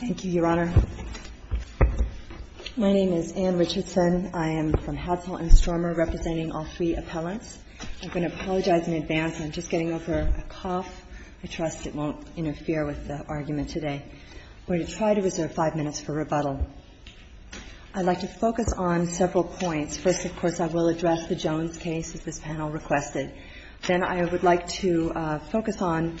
I'm going to apologize in advance. I'm just getting over a cough. I trust it won't interfere with the argument today. We're going to try to reserve 5 minutes for rebuttal. I'd like to focus on several points. First, of course, I will address the Jones case, as this panel requested. Then I would like to focus on,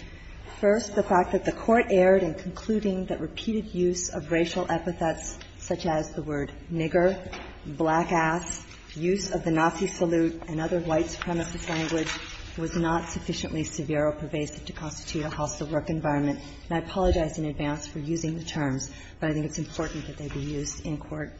first, the fact that the Court erred in concluding that repeated use of racial epithets such as the word nigger, black ass, use of the Nazi salute and other white supremacist language was not sufficiently severe or pervasive to constitute a hostile work environment. And I apologize in advance for using the terms, but I think it's important that they be used in court.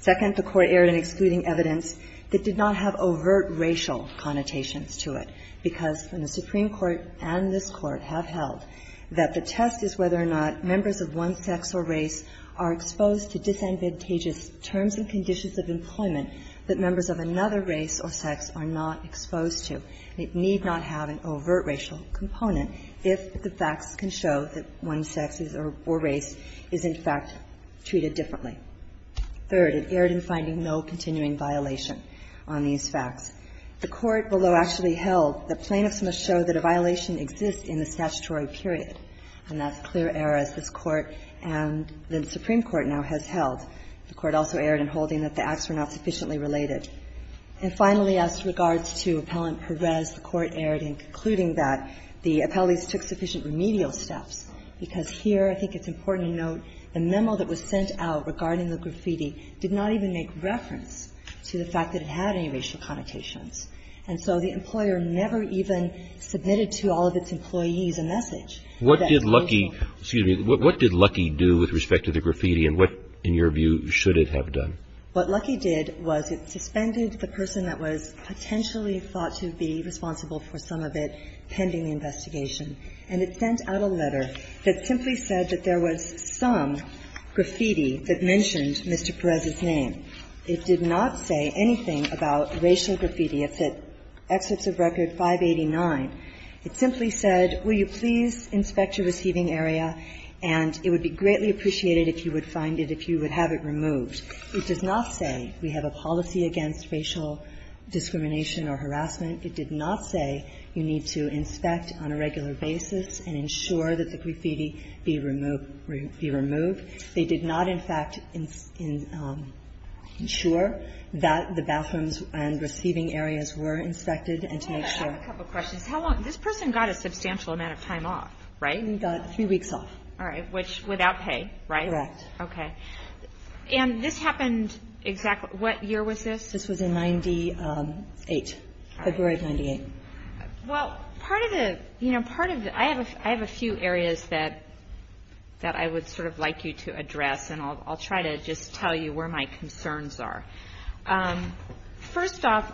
Second, the Court erred in excluding evidence that did not have overt racial connotations to it, because the Supreme Court and this Court have held that the test is whether or not members of one sex or race are exposed to disadvantageous terms and conditions of employment that members of another race or sex are not exposed to. It need not have an overt racial component if the facts can show that one sex or race is, in fact, treated differently. Third, it erred in finding no continuing violation on these facts. The Court, although actually held that plaintiffs must show that a violation exists in the statutory period, and that's clear error, as this Court and the Supreme Court now has held. The Court also erred in holding that the acts were not sufficiently related. And finally, as regards to Appellant Perez, the Court erred in concluding that the appellees took sufficient remedial steps, because here I think it's important to note the memo that was sent out regarding the graffiti did not even make reference to the fact that it had any racial connotations. And so the employer never even submitted to all of its employees a message. What did Lucky do with respect to the graffiti, and what, in your view, should it have done? What Lucky did was it suspended the person that was potentially thought to be responsible for some of it pending the investigation. And it sent out a letter that simply said that there was some graffiti that mentioned Mr. Perez's name. It did not say anything about racial graffiti. If it excerpts of record 589, it simply said, will you please inspect your receiving area, and it would be greatly appreciated if you would find it, if you would have it removed. It does not say we have a policy against racial discrimination or harassment. It did not say you need to inspect on a regular basis and ensure that the graffiti be removed. They did not, in fact, ensure that the bathrooms and receiving areas were inspected and to make sure. I have a couple of questions. How long? This person got a substantial amount of time off, right? He got three weeks off. All right. Which, without pay, right? Correct. Okay. And this happened exactly what year was this? This was in 98, February of 98. Well, part of the, you know, I have a few areas that I would sort of like you to address, and I'll try to just tell you where my concerns are. First off,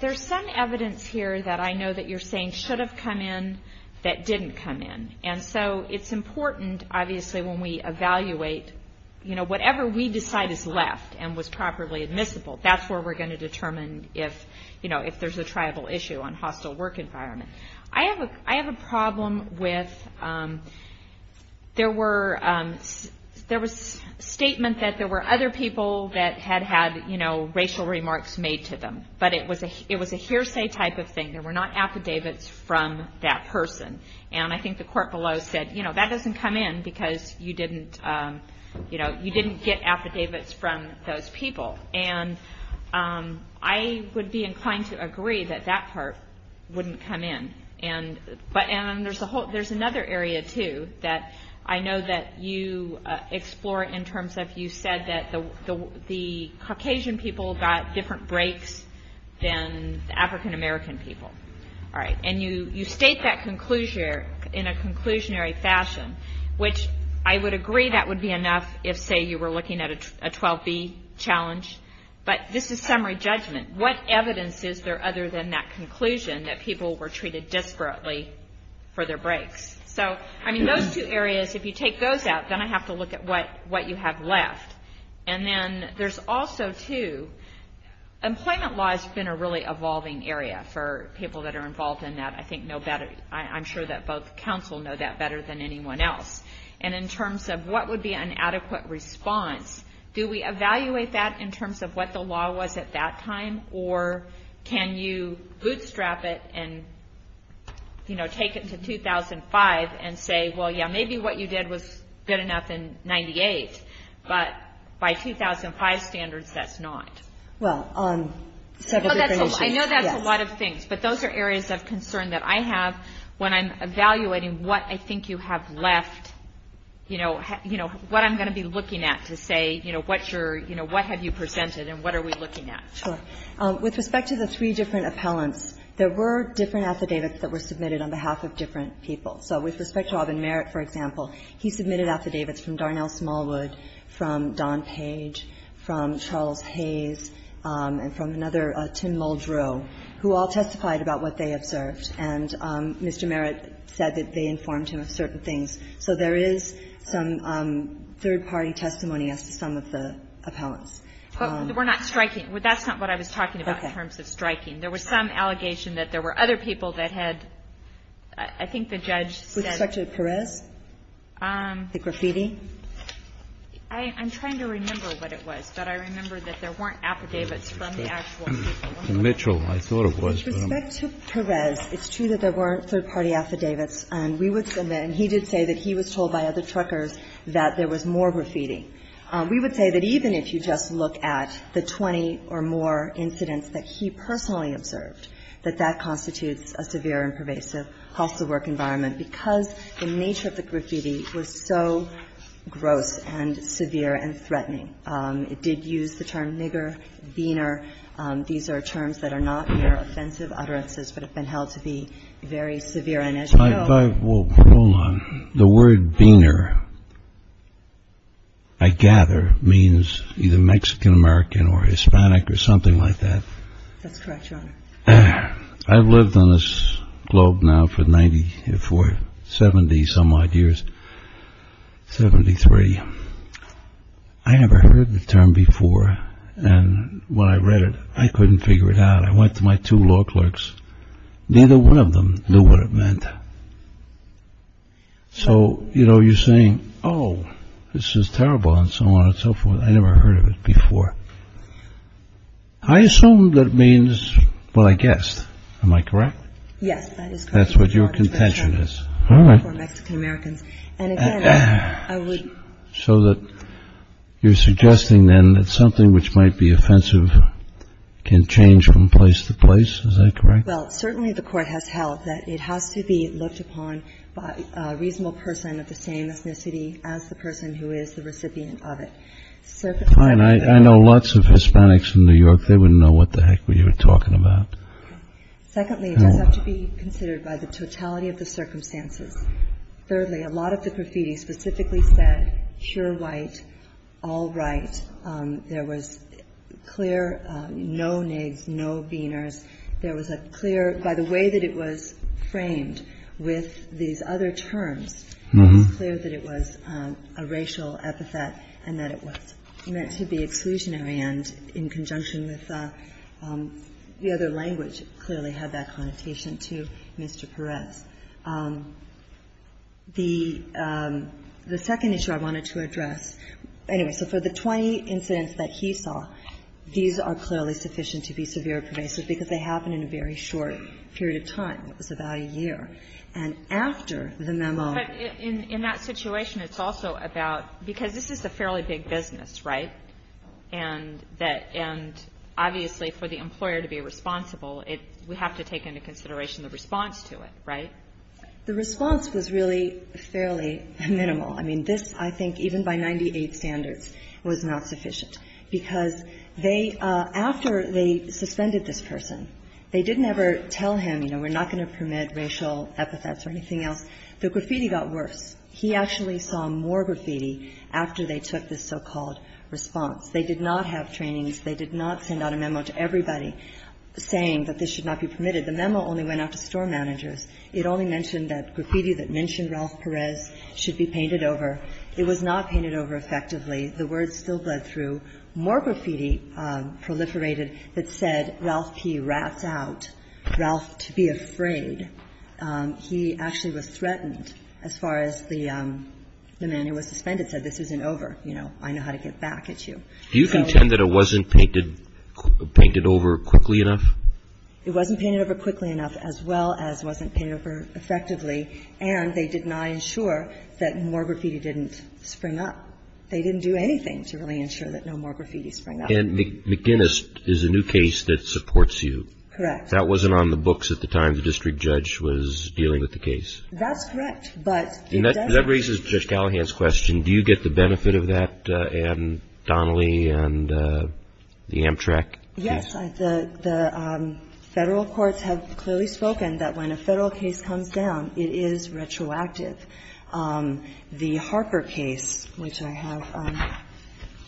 there's some evidence here that I know that you're saying should have come in that didn't come in. And so it's important, obviously, when we evaluate, you know, whatever we decide is left and was properly admissible, that's where we're going to determine if, you know, if there's a tribal issue on hostile work environment. I have a problem with there was statement that there were other people that had had, you know, racial remarks made to them. But it was a hearsay type of thing. There were not affidavits from that person. And I think the court below said, you know, that doesn't come in because you didn't, you know, you didn't get I would be inclined to agree that that part wouldn't come in. And there's a whole, there's another area, too, that I know that you explore in terms of you said that the Caucasian people got different breaks than African American people. All right. And you state that conclusion in a conclusionary fashion, which I would agree that would be enough if, say, you were looking at a 12B challenge. But this is summary judgment. What evidence is there other than that conclusion that people were treated disparately for their breaks? So, I mean, those two areas, if you take those out, then I have to look at what you have left. And then there's also, too, employment law has been a really evolving area for people that are involved in that. I think know better, I'm sure that both counsel know that better than anyone else. And in terms of what would be an adequate response, do we evaluate that in terms of what the law was at that time? Or can you bootstrap it and, you know, take it to 2005 and say, well, yeah, maybe what you did was good enough in 98. But by 2005 standards, that's not. Well, on several different issues, yes. I know that's a lot of things. But those are areas of concern that I have when I'm evaluating what I think you have left, you know, what I'm going to be looking at to say, you know, what's your, you know, what have you presented and what are we looking at? Sure. With respect to the three different appellants, there were different affidavits that were submitted on behalf of different people. So with respect to Aubyn Merritt, for example, he submitted affidavits from Darnell Smallwood, from Don Page, from Charles Hayes, and from another, Tim Muldrow, who all testified about what they observed. And Mr. Merritt said that they informed him of certain things. So there is some third-party testimony as to some of the appellants. We're not striking. That's not what I was talking about in terms of striking. There was some allegation that there were other people that had, I think the judge said the graffiti. With respect to Perez? I'm trying to remember what it was, but I remember that there weren't affidavits from the actual people. With respect to Mitchell, I thought it was, but I'm not sure. With respect to Perez, it's true that there were third-party affidavits. And we would submit, and he did say that he was told by other truckers that there was more graffiti. We would say that even if you just look at the 20 or more incidents that he personally observed, that that constitutes a severe and pervasive hostile work environment because the nature of the graffiti was so gross and severe and threatening. It did use the term nigger, beaner. These are terms that are not mere offensive utterances but have been held to be very severe. Hold on. The word beaner, I gather, means either Mexican-American or Hispanic or something like that. That's correct, Your Honor. I've lived on this globe now for 70-some odd years, 73. I never heard the term before, and when I read it, I couldn't figure it out. I went to my two law clerks. Neither one of them knew what it meant. So, you know, you're saying, oh, this is terrible and so on and so forth. I never heard of it before. I assume that means, well, I guessed. Am I correct? Yes, that is correct, Your Honor. That's what your contention is. All right. For Mexican-Americans. And again, I would... So that you're suggesting then that something which might be offensive can change from place to place. Is that correct? Well, certainly the Court has held that it has to be looked upon by a reasonable person of the same ethnicity as the person who is the recipient of it. Fine. I know lots of Hispanics in New York. They wouldn't know what the heck we were talking about. Secondly, it does have to be considered by the totality of the circumstances. Thirdly, a lot of the graffiti specifically said pure white, all right. There was clear no nigs, no beaners. There was a clear, by the way that it was framed with these other terms, it was clear that it was a racial epithet and that it was meant to be exclusionary and in conjunction with the other language clearly had that connotation to Mr. Perez. The second issue I wanted to address, anyway, so for the 20 incidents that he saw, these are clearly sufficient to be severe pervasive because they happened in a very short period of time. It was about a year. And after the memo... But in that situation, it's also about, because this is a fairly big business, right, and that, and obviously for the employer to be responsible, it, we have to take into consideration the response to it, right? The response was really fairly minimal. I mean, this I think even by 98 standards was not sufficient because they, after they suspended this person, they didn't ever tell him, you know, we're not going to permit racial epithets or anything else. The graffiti got worse. He actually saw more graffiti after they took this so-called response. They did not have trainings. They did not send out a memo to everybody saying that this should not be permitted. The memo only went out to store managers. It only mentioned that graffiti that mentioned Ralph Perez should be painted over. It was not painted over effectively. The words still bled through. More graffiti proliferated that said Ralph P. rats out. Ralph to be afraid. He actually was threatened as far as the man who was suspended said, this isn't You know, I know how to get back at you. So... Do you contend that it wasn't painted over quickly enough? It wasn't painted over quickly enough as well as wasn't painted over effectively and they did not ensure that more graffiti didn't spring up. They didn't do anything to really ensure that no more graffiti sprang up. And McGinnis is a new case that supports you. Correct. That wasn't on the books at the time the district judge was dealing with the case. That's correct, but... That raises Judge Callahan's question. Do you get the benefit of that, Anne Donnelly and the Amtrak case? Yes. The Federal courts have clearly spoken that when a Federal case comes down, it is retroactive. The Harper case, which I have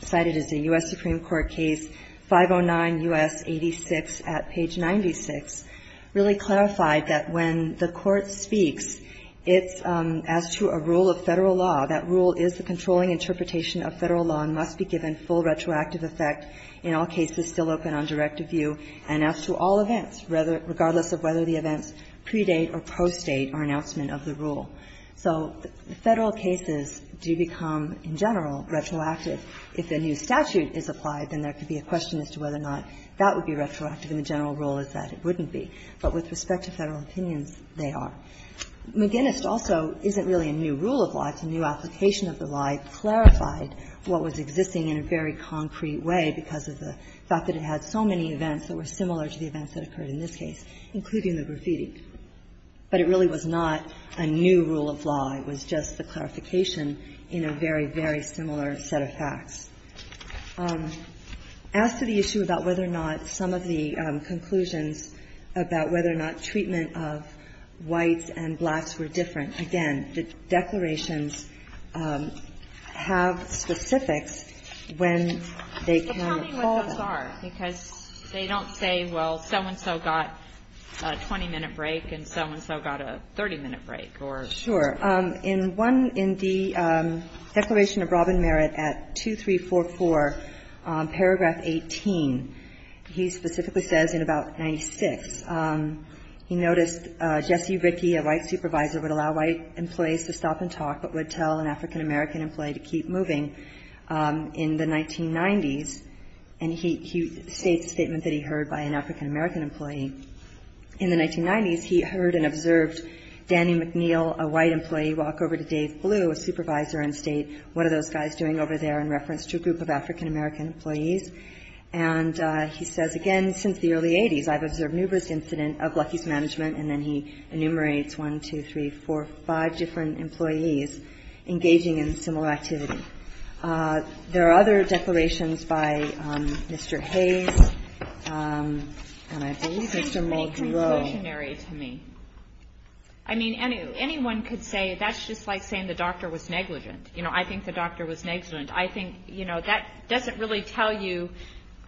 cited as a U.S. Supreme Court case, 509 U.S. 86 at page 96, really clarified that when the court speaks, it's as to a rule of Federal law, that rule is the controlling interpretation of Federal law and must be given full retroactive effect, in all cases still open on directive view, and as to all events, regardless of whether the events predate or postdate our announcement of the rule. So Federal cases do become, in general, retroactive. If a new statute is applied, then there could be a question as to whether or not that would be retroactive, and the general rule is that it wouldn't be. But with respect to Federal opinions, they are. McGinnis also isn't really a new rule of law. It's a new application of the law. It clarified what was existing in a very concrete way because of the fact that it had so many events that were similar to the events that occurred in this case, including the graffiti. But it really was not a new rule of law. It was just the clarification in a very, very similar set of facts. As to the issue about whether or not some of the conclusions about whether or not treatment of whites and blacks were different, again, the declarations have specifics when they can recall them. So tell me what those are, because they don't say, well, so-and-so got a 20-minute break and so-and-so got a 30-minute break or so. Sure. In one in the Declaration of Robin Merit at 2344, paragraph 18, he specifically says in about 96, he noticed Jesse Rickey, a white supervisor, would allow white employees to stop and talk but would tell an African-American employee to keep moving in the 1990s. And he states a statement that he heard by an African-American employee. In the 1990s, he heard and observed Danny McNeil, a white employee, walk over to Dave Blue, a supervisor, and state, what are those guys doing over there, in reference to a group of African-American employees. And he says, again, since the early 80s, I've observed Nuber's incident of Lucky's management. And then he enumerates one, two, three, four, five different employees engaging in similar activity. There are other declarations by Mr. Hayes, and I believe Mr. Muldrow. That's very conclusionary to me. I mean, anyone could say that's just like saying the doctor was negligent. You know, I think the doctor was negligent. I think, you know, that doesn't really tell you,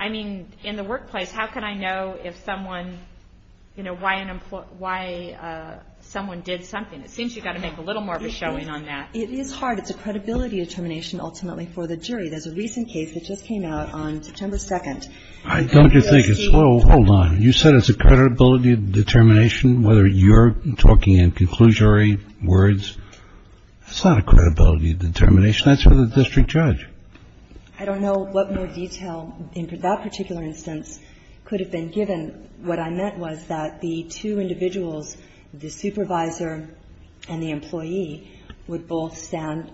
I mean, in the workplace, how can I know if someone, you know, why someone did something? It seems you've got to make a little more of a showing on that. It is hard. It's a credibility determination, ultimately, for the jury. There's a recent case that just came out on September 2nd. Don't you think it's, well, hold on. You said it's a credibility determination, whether you're talking in conclusionary words. It's not a credibility determination. That's for the district judge. I don't know what more detail in that particular instance could have been given. What I meant was that the two individuals, the supervisor and the employee, would both stand,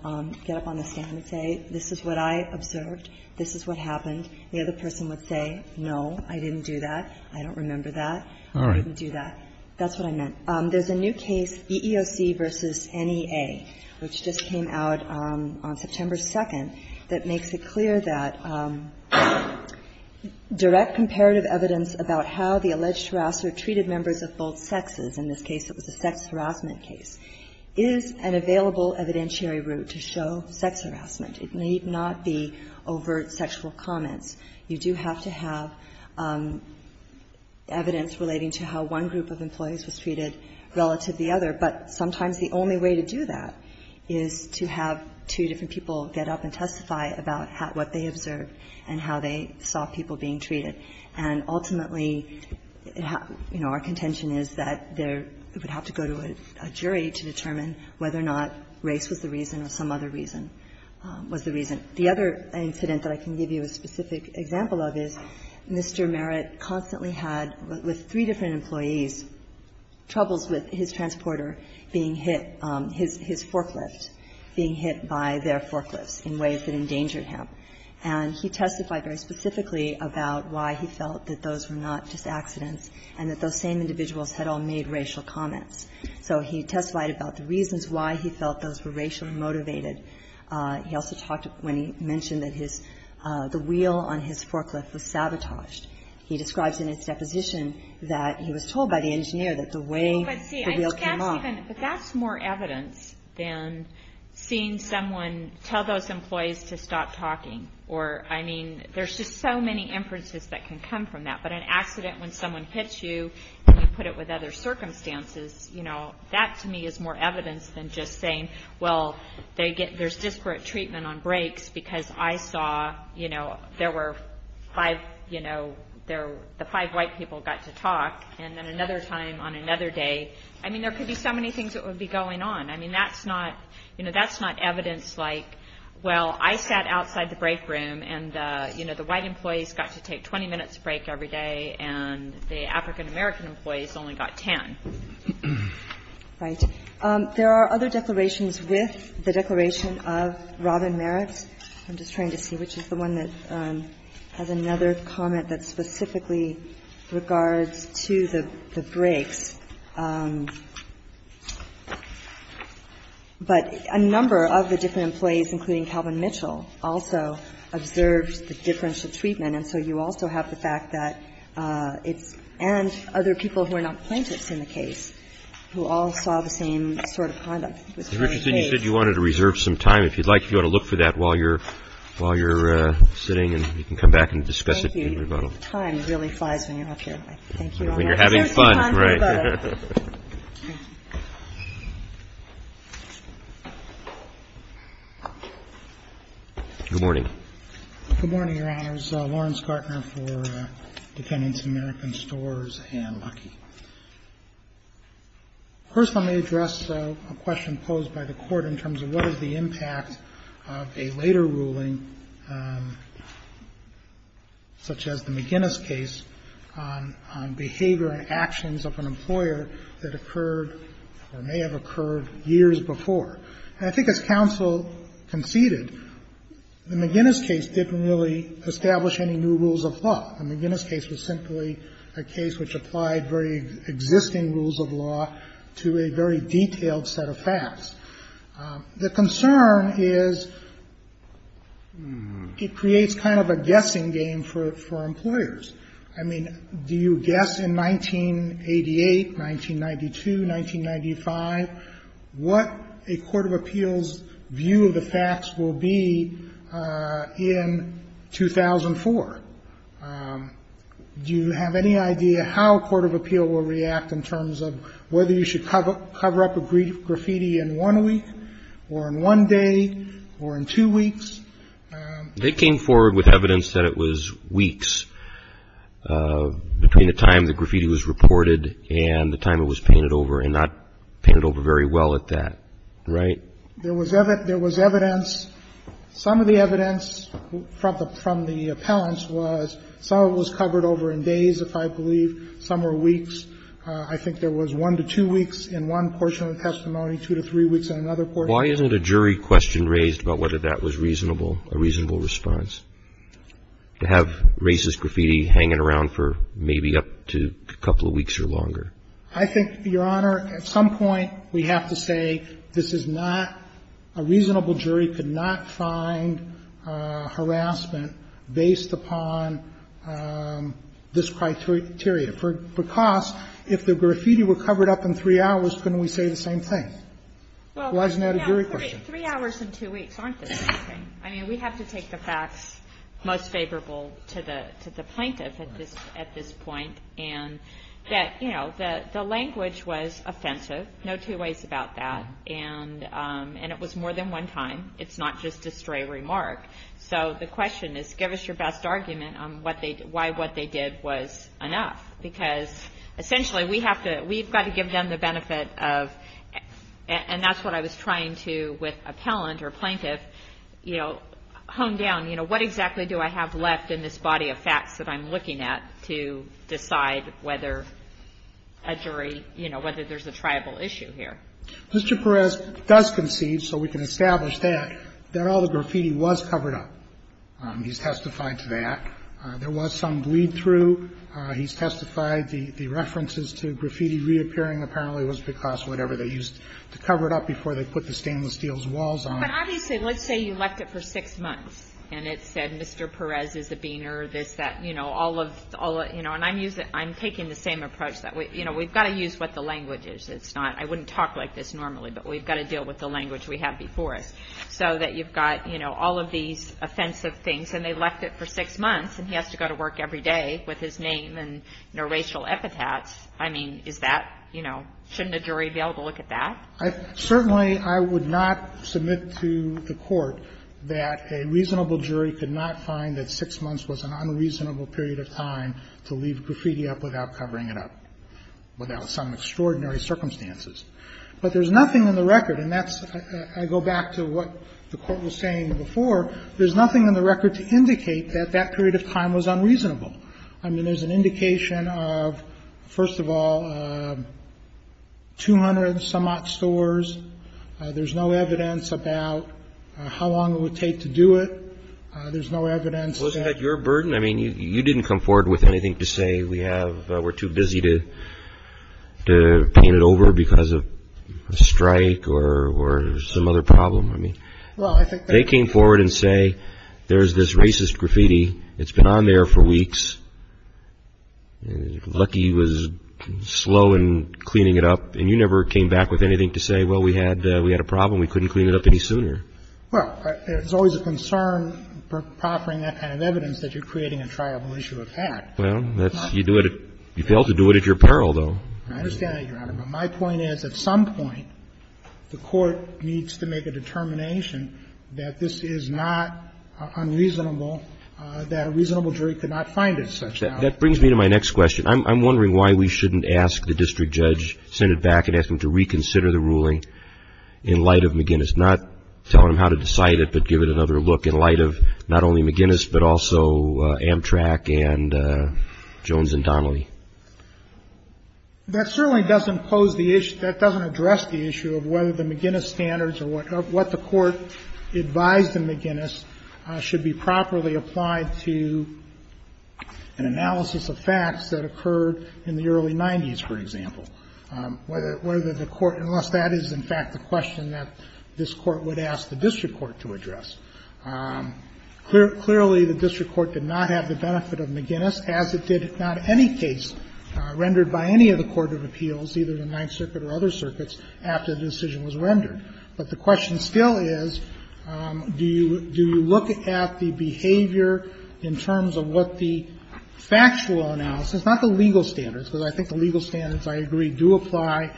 get up on the stand and say, this is what I observed. This is what happened. The other person would say, no, I didn't do that. I don't remember that. I didn't do that. That's what I meant. There's a new case, EEOC v. NEA, which just came out on September 2nd, that makes it clear that direct comparative evidence about how the alleged harasser treated members of both sexes, in this case it was a sex harassment case, is an available evidentiary route to show sex harassment. It need not be overt sexual comments. You do have to have evidence relating to how one group of employees was treated relative to the other. But sometimes the only way to do that is to have two different people get up and testify about what they observed and how they saw people being treated. And ultimately, you know, our contention is that there would have to go to a jury to determine whether or not race was the reason or some other reason was the reason. The other incident that I can give you a specific example of is Mr. Merritt constantly had, with three different employees, troubles with his transporter being hit, his forklift being hit by their forklifts in ways that endangered him. And he testified very specifically about why he felt that those were not just accidents and that those same individuals had all made racial comments. So he testified about the reasons why he felt those were racially motivated. He also talked when he mentioned that his, the wheel on his forklift was sabotaged. He describes in his deposition that he was told by the engineer that the way the wheel came off. But see, I can't even, but that's more evidence than seeing someone tell those employees to stop talking. Or, I mean, there's just so many inferences that can come from that. But an accident when someone hits you and you put it with other circumstances, you know, that, to me, is more evidence than just saying, well, there's disparate treatment on breaks because I saw, you know, there were five, you know, the five white people got to talk. And then another time on another day, I mean, there could be so many things that would be going on. I mean, that's not, you know, that's not evidence like, well, I sat outside the break room and, you know, the white employees got to take 20 minutes break every day and the African-American employees only got 10. Right. There are other declarations with the declaration of Robin Merritt. I'm just trying to see which is the one that has another comment that specifically regards to the breaks. But a number of the different employees, including Calvin Mitchell, also observed the difference of treatment. And so you also have the fact that it's – and other people who are not plaintiffs in the case who all saw the same sort of conduct. It was very vague. Mr. Richardson, you said you wanted to reserve some time. If you'd like, if you want to look for that while you're sitting and you can come back and discuss it. Thank you. Time really flies when you're up here. Thank you, Your Honor. When you're having fun. Right. Thank you. Good morning. Good morning, Your Honors. I'm Lawrence Gartner for Defendants in American Stores and Lucky. First, let me address a question posed by the Court in terms of what is the impact of a later ruling such as the McGinnis case on behavior and actions of an employer that occurred or may have occurred years before. And I think as counsel conceded, the McGinnis case didn't really establish any new rules of law. The McGinnis case was simply a case which applied very existing rules of law to a very detailed set of facts. The concern is it creates kind of a guessing game for employers. I mean, do you guess in 1988, 1992, 1995, what a court of appeals view of the facts will be in 2004? Do you have any idea how a court of appeal will react in terms of whether you should cover up a graffiti in one week or in one day or in two weeks? They came forward with evidence that it was weeks between the time the graffiti was reported and the time it was painted over, and not painted over very well at that. Right? There was evidence. Some of the evidence from the appellants was some of it was covered over in days, if I believe. Some were weeks. I think there was one to two weeks in one portion of the testimony, two to three weeks in another portion. Why isn't a jury question raised about whether that was reasonable, a reasonable response to have racist graffiti hanging around for maybe up to a couple of weeks or longer? I think, Your Honor, at some point we have to say this is not a reasonable jury could not find harassment based upon this criteria. Because if the graffiti were covered up in three hours, couldn't we say the same thing? Why isn't that a jury question? Three hours and two weeks aren't the same thing. I mean, we have to take the facts most favorable to the plaintiff at this point. And that, you know, the language was offensive. No two ways about that. And it was more than one time. It's not just a stray remark. So the question is, give us your best argument on why what they did was enough. Because essentially we have to we've got to give them the benefit of, and that's what I was trying to with appellant or plaintiff, you know, hone down, you know, what exactly do I have left in this body of facts that I'm looking at to decide whether a jury, you know, whether there's a triable issue here? Mr. Perez does concede, so we can establish that, that all the graffiti was covered up. He's testified to that. There was some bleed through. He's testified the references to graffiti reappearing apparently was because whatever they used to cover it up before they put the stainless steel's walls on. But obviously, let's say you left it for six months, and it said Mr. Perez is a beaner, this, that, you know, all of, you know, and I'm using, I'm taking the same approach that we, you know, we've got to use what the language is. It's not, I wouldn't talk like this normally, but we've got to deal with the language we have before us so that you've got, you know, all of these offensive things. And they left it for six months, and he has to go to work every day with his name and, you know, racial epithets. I mean, is that, you know, shouldn't a jury be able to look at that? Certainly, I would not submit to the Court that a reasonable jury could not find that six months was an unreasonable period of time to leave graffiti up without covering it up, without some extraordinary circumstances. But there's nothing in the record, and that's, I go back to what the Court was saying before, there's nothing in the record to indicate that that period of time was unreasonable. I mean, there's an indication of, first of all, 200-some-odd stores. There's no evidence about how long it would take to do it. There's no evidence that. Wasn't that your burden? I mean, you didn't come forward with anything to say we have, we're too busy to paint it over because of a strike or some other problem. I mean, they came forward and say there's this racist graffiti. It's been on there for weeks. Lucky was slow in cleaning it up. And you never came back with anything to say, well, we had a problem. We couldn't clean it up any sooner. Well, there's always a concern for proffering that kind of evidence that you're creating a triable issue of fact. Well, that's, you do it, you fail to do it at your peril, though. I understand that, Your Honor. But my point is, at some point, the Court needs to make a determination that this is not unreasonable, that a reasonable jury could not find it such that. That brings me to my next question. I'm wondering why we shouldn't ask the district judge, send it back and ask him to reconsider the ruling in light of McGinnis, not tell him how to decide it, but give it another look in light of not only McGinnis, but also Amtrak and Jones and Donnelly. That certainly doesn't pose the issue, that doesn't address the issue of whether the McGinnis standards or what the Court advised in McGinnis should be properly applied to an analysis of facts that occurred in the early 90s, for example, whether the Court, unless that is, in fact, the question that this Court would ask the district court to address. Clearly, the district court did not have the benefit of McGinnis, as it did in not any case rendered by any of the court of appeals, either the Ninth Circuit or other circuits, after the decision was rendered. But the question still is, do you look at the behavior in terms of what the factual analysis, not the legal standards, because I think the legal standards, I agree, do apply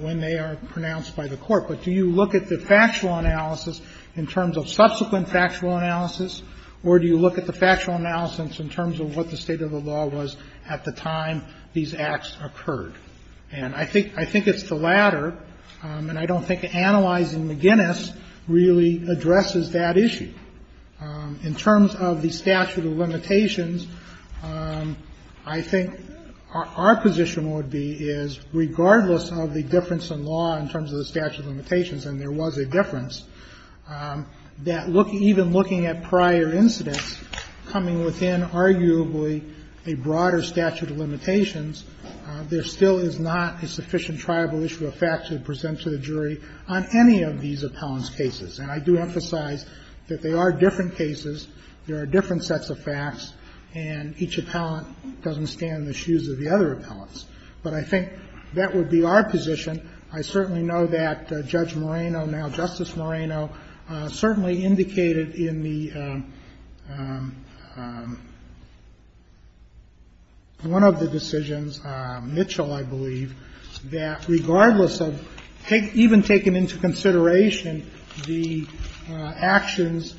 when they are pronounced by the Court, but do you look at the factual analysis in terms of subsequent factual analysis, or do you look at the factual analysis in terms of what the state of the law was at the time these acts occurred? And I think it's the latter, and I don't think analyzing McGinnis really addresses that issue. In terms of the statute of limitations, I think our position would be is, regardless of the difference in law in terms of the statute of limitations, and there was a difference, that even looking at prior incidents coming within arguably a broader statute of limitations, there still is not a sufficient tribal issue of facts to present to the jury on any of these appellant's cases. And I do emphasize that they are different cases, there are different sets of facts, and each appellant doesn't stand in the shoes of the other appellants. But I think that would be our position. I certainly know that Judge Moreno, now Justice Moreno, certainly indicated in the one of the decisions, Mitchell, I believe, that regardless of even taking into consideration the actions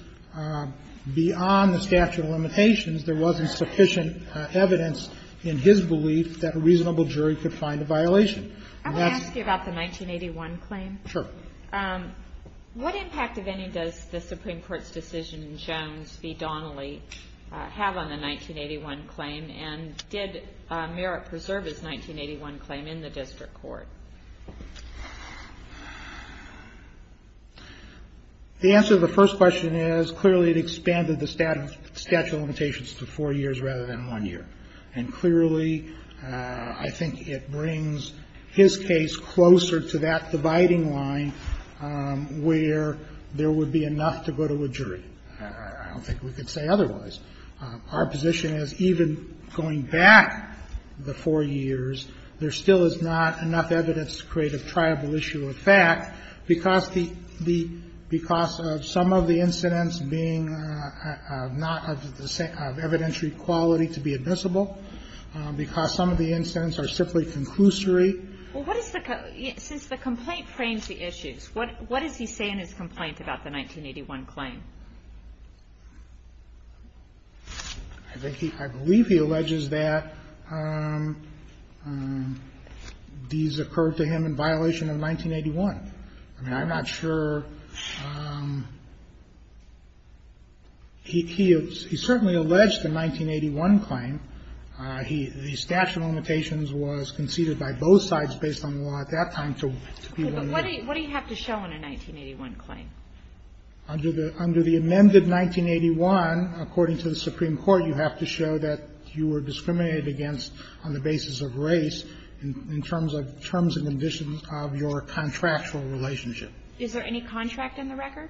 beyond the statute of limitations, there wasn't sufficient evidence in his belief that a reasonable jury could find a violation. And that's... I want to ask you about the 1981 claim. Sure. What impact, if any, does the Supreme Court's decision in Jones v. Donnelly have on the 1981 claim? And did Merritt preserve his 1981 claim in the district court? The answer to the first question is, clearly, it expanded the statute of limitations to four years rather than one year. And clearly, I think it brings his case closer to that dividing line where there would be enough to go to a jury. I don't think we could say otherwise. Our position is, even going back the four years, there still is not enough evidence to create a triable issue of fact because of some of the incidents being not of evidentiary quality to be admissible, because some of the incidents are simply conclusory. Well, what is the... Since the complaint frames the issues, what does he say in his complaint about the 1981 claim? I think he... I believe he alleges that these occurred to him in violation of 1981. I mean, I'm not sure. He certainly alleged the 1981 claim. The statute of limitations was conceded by both sides based on the law at that time to be one year. Okay. But what do you have to show in a 1981 claim? Under the amended 1981, according to the Supreme Court, you have to show that you were discriminated against on the basis of race in terms of terms and conditions of your contractual relationship. Is there any contract in the record?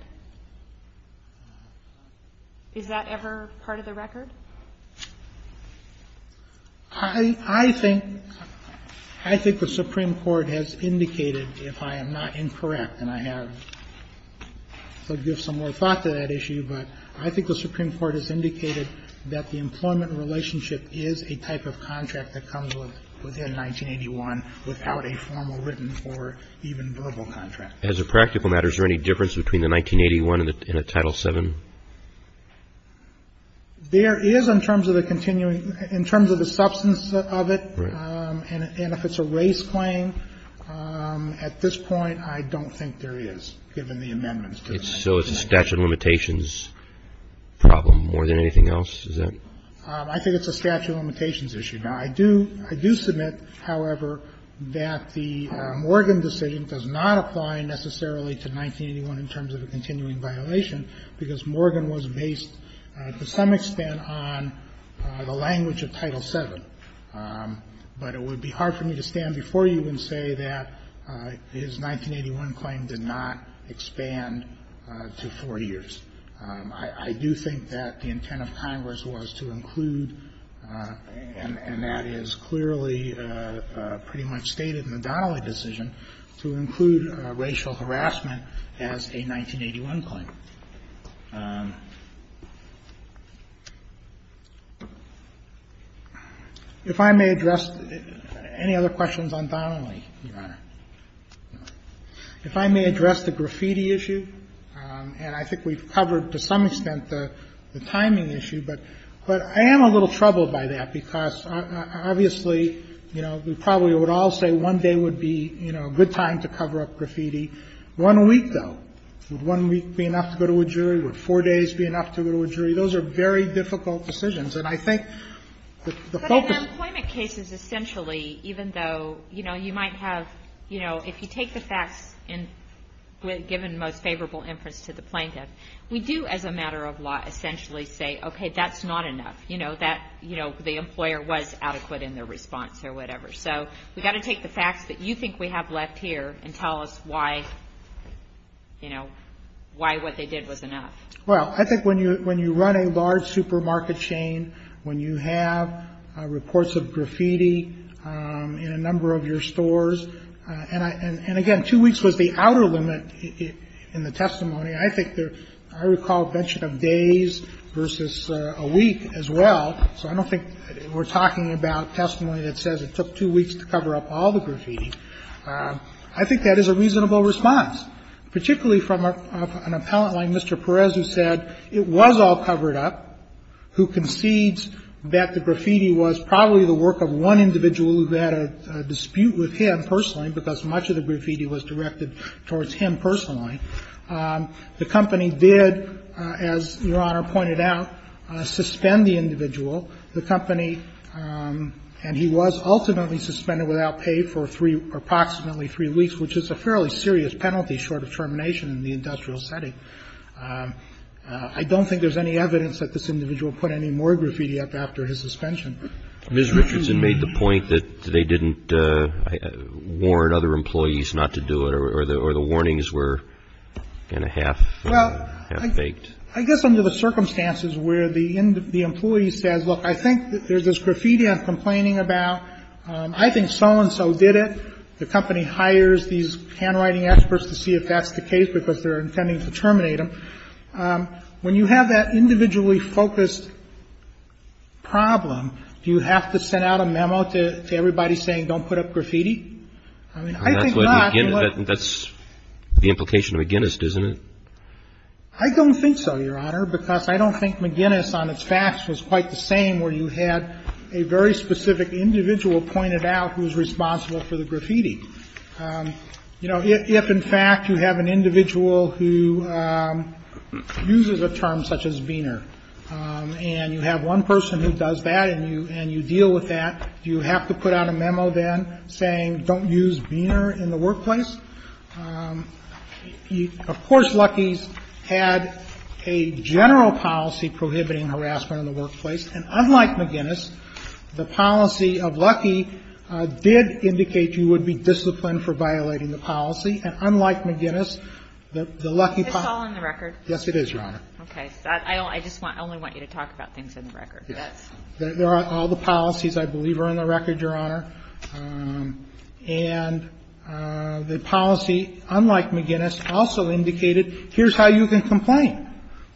Is that ever part of the record? I think the Supreme Court has indicated, if I am not incorrect, and I haven't, to give some more thought to that issue, but I think the Supreme Court has indicated that the employment relationship is a type of contract that comes within 1981 without a formal, written, or even verbal contract. As a practical matter, is there any difference between the 1981 and a Title VII? There is in terms of the continuing, in terms of the substance of it. Right. And if it's a race claim, at this point, I don't think there is, given the amendments to that. So it's a statute of limitations problem more than anything else? Is that? I think it's a statute of limitations issue. Now, I do submit, however, that the Morgan decision does not apply necessarily to 1981 in terms of a continuing violation, because Morgan was based, to some extent, on the language of Title VII. But it would be hard for me to stand before you and say that his 1981 claim did not expand to 40 years. I do think that the intent of Congress was to include, and that is clearly pretty much stated in the Donnelly decision, to include racial harassment as a 1981 claim. If I may address any other questions on Donnelly, Your Honor. If I may address the graffiti issue, and I think we've covered, to some extent, the timing issue, but I am a little troubled by that, because obviously, you know, we probably would all say one day would be, you know, a good time to cover up graffiti. One week, though. Would one week be enough to go to a jury? Would four days be enough to go to a jury? Those are very difficult decisions. And I think the focus of the case is essentially, even though, you know, you might have, you know, if you take the facts and given the most favorable inference to the plaintiff, we do as a matter of law essentially say, okay, that's not enough. You know, that, you know, the employer was adequate in their response or whatever. So we've got to take the facts that you think we have left here and tell us why, you know, why what they did was enough. Well, I think when you run a large supermarket chain, when you have reports of graffiti in a number of your stores, and again, two weeks was the outer limit in the testimony. I think there, I recall a mention of days versus a week as well. So I don't think we're talking about testimony that says it took two weeks to cover up all the graffiti. I think that is a reasonable response, particularly from an appellant like Mr. Perez, who said it was all covered up, who concedes that the graffiti was probably the work of one individual who had a dispute with him personally, because much of the graffiti was directed towards him personally. The company did, as Your Honor pointed out, suspend the individual. The company, and he was ultimately suspended without pay for three, approximately three weeks, which is a fairly serious penalty short of termination in the industrial setting. I don't think there's any evidence that this individual put any more graffiti up after his suspension. Mr. Richardson made the point that they didn't warn other employees not to do it or the warnings were kind of half-baked. Well, I guess under the circumstances where the employee says, look, I think there's this graffiti I'm complaining about. I think so-and-so did it. The company hires these handwriting experts to see if that's the case because they're intending to terminate him. When you have that individually focused problem, do you have to send out a memo to everybody saying don't put up graffiti? I mean, I think not. That's the implication of McGinnis, isn't it? I don't think so, Your Honor, because I don't think McGinnis on its facts was quite the same where you had a very specific individual pointed out who's responsible for the graffiti. You know, if in fact you have an individual who uses a term such as Beaner and you have one person who does that and you deal with that, do you have to put out a memo then saying don't use Beaner in the workplace? Of course, Luckey's had a general policy prohibiting harassment in the workplace, and unlike McGinnis, the policy of Luckey did indicate you would be disciplined for violating the policy. And unlike McGinnis, the Luckey policy- It's all in the record? Yes, it is, Your Honor. Okay. Yes. There are all the policies, I believe, are in the record, Your Honor. And the policy, unlike McGinnis, also indicated here's how you can complain.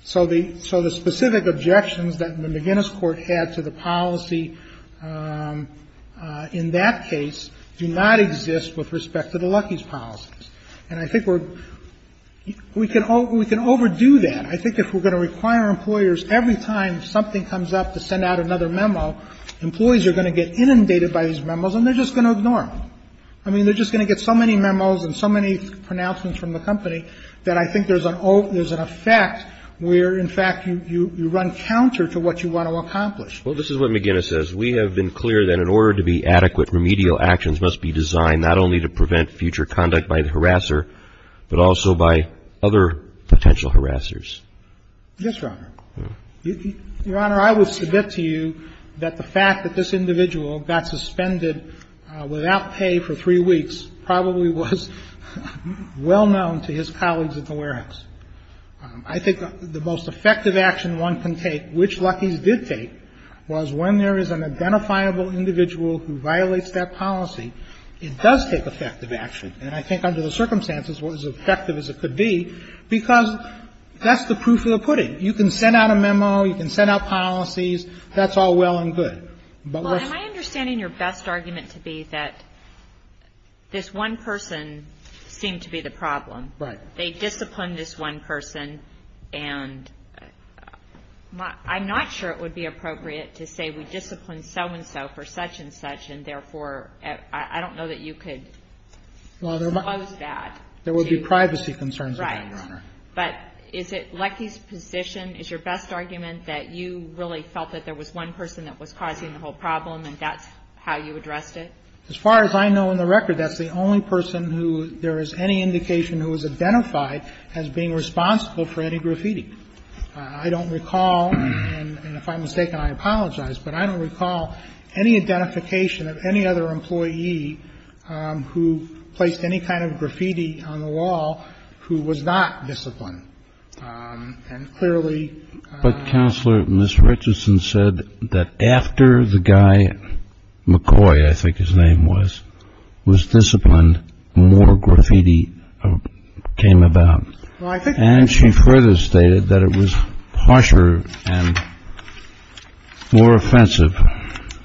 So the specific objections that the McGinnis court had to the policy in that case do not exist with respect to the Luckey's policies. And I think we're – we can overdo that. I think if we're going to require employers every time something comes up to send out another memo, employees are going to get inundated by these memos and they're just going to ignore them. I mean, they're just going to get so many memos and so many pronouncements from the company that I think there's an effect where, in fact, you run counter to what you want to accomplish. Well, this is what McGinnis says. We have been clear that in order to be adequate, remedial actions must be designed future conduct by the harasser, but also by other potential harassers. Yes, Your Honor. Your Honor, I would submit to you that the fact that this individual got suspended without pay for three weeks probably was well known to his colleagues at the warehouse. I think the most effective action one can take, which Luckey's did take, was when there is an identifiable individual who violates that policy, it does take effective action. And I think under the circumstances, it was as effective as it could be, because that's the proof of the pudding. You can send out a memo. You can send out policies. That's all well and good. Well, am I understanding your best argument to be that this one person seemed to be the problem. Right. They disciplined this one person, and I'm not sure it would be appropriate to say we disciplined so-and-so for such-and-such, and therefore, I don't know that you could expose that. Well, there would be privacy concerns about it, Your Honor. Right. But is it Luckey's position, is your best argument that you really felt that there was one person that was causing the whole problem and that's how you addressed it? As far as I know in the record, that's the only person who there is any indication who was identified as being responsible for any graffiti. I don't recall, and if I'm mistaken, I apologize, but I don't recall any identification of any other employee who placed any kind of graffiti on the wall who was not disciplined. And clearly — But Counselor, Ms. Richardson said that after the guy McCoy, I think his name was, was disciplined, more graffiti came about. Well, I think — And she further stated that it was harsher and more offensive.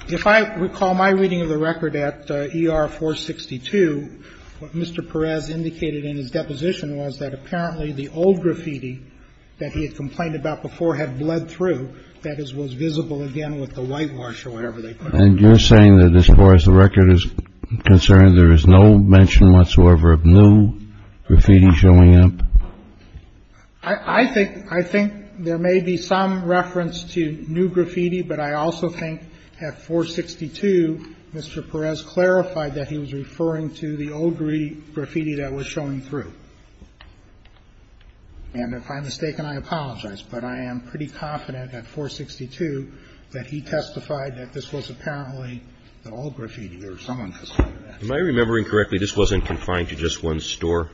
If I recall my reading of the record at ER 462, what Mr. Perez indicated in his deposition was that apparently the old graffiti that he had complained about before had bled through, that is, was visible again with the whitewash or whatever they put on it. And you're saying that as far as the record is concerned, there is no mention whatsoever of new graffiti showing up? I think — I think there may be some reference to new graffiti, but I also think at 462, Mr. Perez clarified that he was referring to the old graffiti that was showing through. And if I'm mistaken, I apologize, but I am pretty confident at 462 that he testified that this was apparently the old graffiti or someone complained about it. Am I remembering correctly, this wasn't confined to just one store?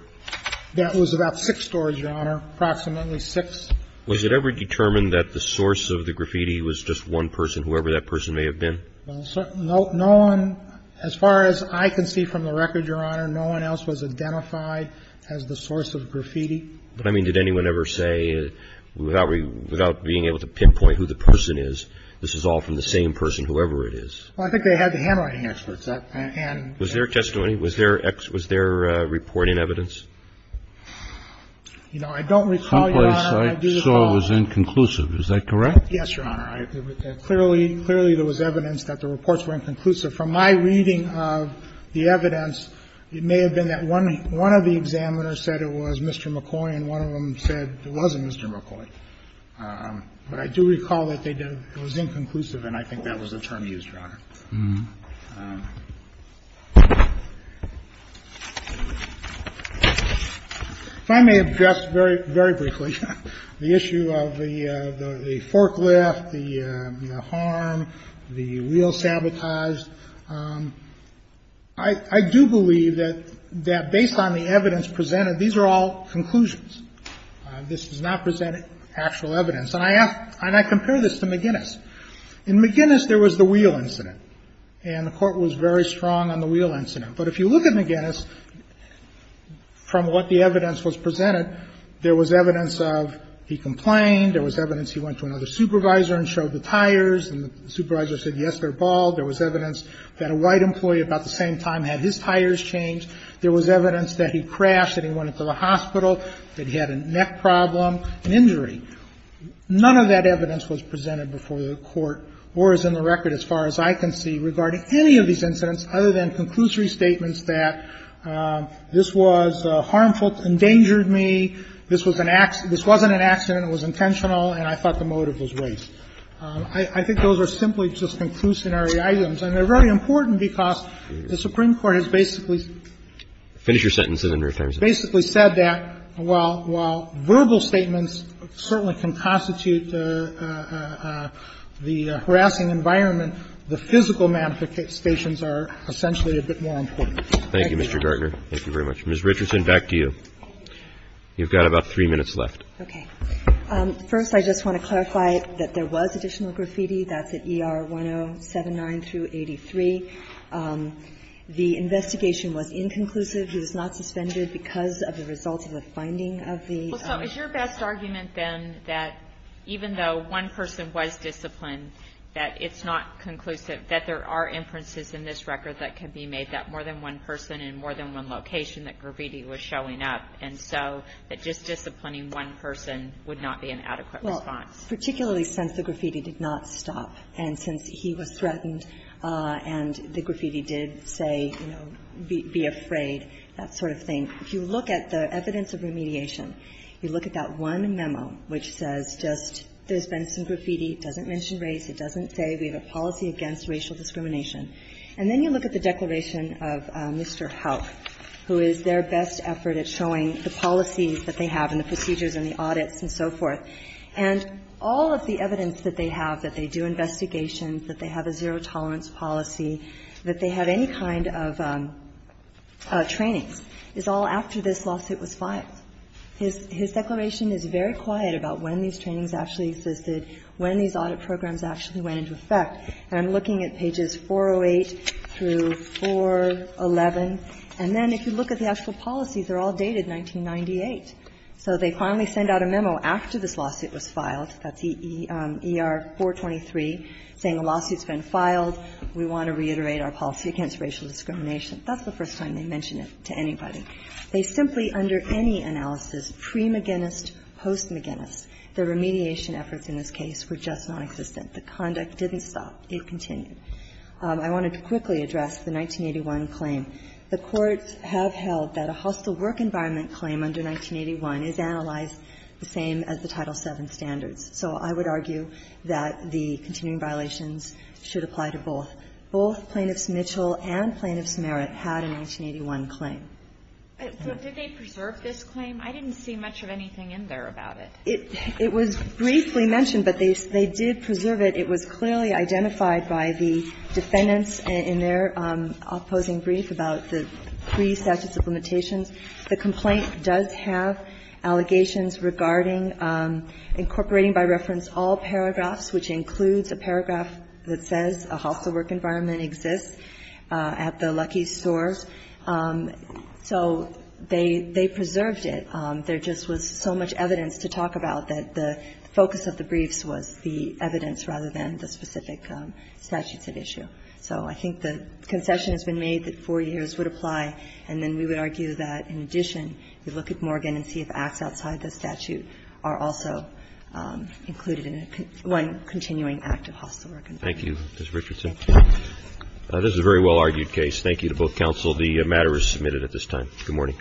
That was about six stores, Your Honor, approximately six. Was it ever determined that the source of the graffiti was just one person, whoever that person may have been? No one — as far as I can see from the record, Your Honor, no one else was identified as the source of graffiti. But, I mean, did anyone ever say, without being able to pinpoint who the person is, this is all from the same person, whoever it is? Well, I think they had the handwriting experts. Was there testimony? Was there reporting evidence? You know, I don't recall, Your Honor. Some place I saw was inconclusive. Is that correct? Yes, Your Honor. Clearly, there was evidence that the reports were inconclusive. From my reading of the evidence, it may have been that one of the examiners said it was Mr. McCoy, and one of them said it wasn't Mr. McCoy. But I do recall that it was inconclusive, and I think that was the term used, Your Honor. If I may address very, very briefly the issue of the forklift, the harm, the wheel sabotaged, I do believe that based on the evidence presented, these are all conclusions. This does not present actual evidence. And I compare this to McGinnis. In McGinnis, there was the wheel incident, and the Court was very strong on the wheel incident. But if you look at McGinnis, from what the evidence was presented, there was evidence of he complained. There was evidence he went to another supervisor and showed the tires, and the supervisor said, yes, they're bald. There was evidence that a white employee about the same time had his tires changed. There was evidence that he crashed and he went into the hospital, that he had a neck problem, an injury. None of that evidence was presented before the Court or is in the record, as far as I can see, regarding any of these incidents, other than conclusory statements that this was harmful, endangered me, this was an accident, this wasn't an accident, it was intentional, and I thought the motive was race. I think those are simply just conclusionary items. And they're very important because the Supreme Court has basically said that while verbal statements certainly can constitute the harassing environment, the physical manifestations are essentially a bit more important. Thank you, Mr. Gartner. Thank you very much. Ms. Richardson, back to you. You've got about three minutes left. Okay. First, I just want to clarify that there was additional graffiti. That's at ER 1079-83. The investigation was inconclusive. He was not suspended because of the results of the finding of the ER. Well, so is your best argument, then, that even though one person was disciplined, that it's not conclusive, that there are inferences in this record that can be made that more than one person in more than one location that graffiti was showing up, and so that just disciplining one person would not be an adequate response? Well, particularly since the graffiti did not stop and since he was threatened and the graffiti did say, you know, be afraid, that sort of thing. If you look at the evidence of remediation, you look at that one memo which says just there's been some graffiti. It doesn't mention race. It doesn't say we have a policy against racial discrimination. And then you look at the declaration of Mr. Houck, who is their best effort at showing the policies that they have and the procedures and the audits and so forth, and all of the evidence that they have, that they do investigations, that they have a zero tolerance policy, that they have any kind of trainings, is all after this lawsuit was filed. His declaration is very quiet about when these trainings actually existed, when these audit programs actually went into effect. And I'm looking at pages 408 through 411. And then if you look at the actual policies, they're all dated 1998. So they finally send out a memo after this lawsuit was filed, that's ER-423, saying the lawsuit's been filed, we want to reiterate our policy against racial discrimination. That's the first time they mention it to anybody. They simply under any analysis, pre-McGinnis, post-McGinnis, the remediation efforts in this case were just nonexistent. The conduct didn't stop. It continued. I wanted to quickly address the 1981 claim. The courts have held that a hostile work environment claim under 1981 is analyzed the same as the Title VII standards. So I would argue that the continuing violations should apply to both. Both Plaintiffs Mitchell and Plaintiffs Merritt had a 1981 claim. But did they preserve this claim? I didn't see much of anything in there about it. It was briefly mentioned, but they did preserve it. It was clearly identified by the defendants in their opposing brief about the pre-statute supplementations. The complaint does have allegations regarding incorporating by reference all paragraphs, which includes a paragraph that says a hostile work environment exists at the Lucky's stores. So they preserved it. There just was so much evidence to talk about that the focus of the briefs was the specific statutes at issue. So I think the concession has been made that 4 years would apply. And then we would argue that, in addition, you look at Morgan and see if acts outside the statute are also included in one continuing active hostile work environment. Thank you, Ms. Richardson. Thank you. This is a very well-argued case. Thank you to both counsel. The matter is submitted at this time. Good morning.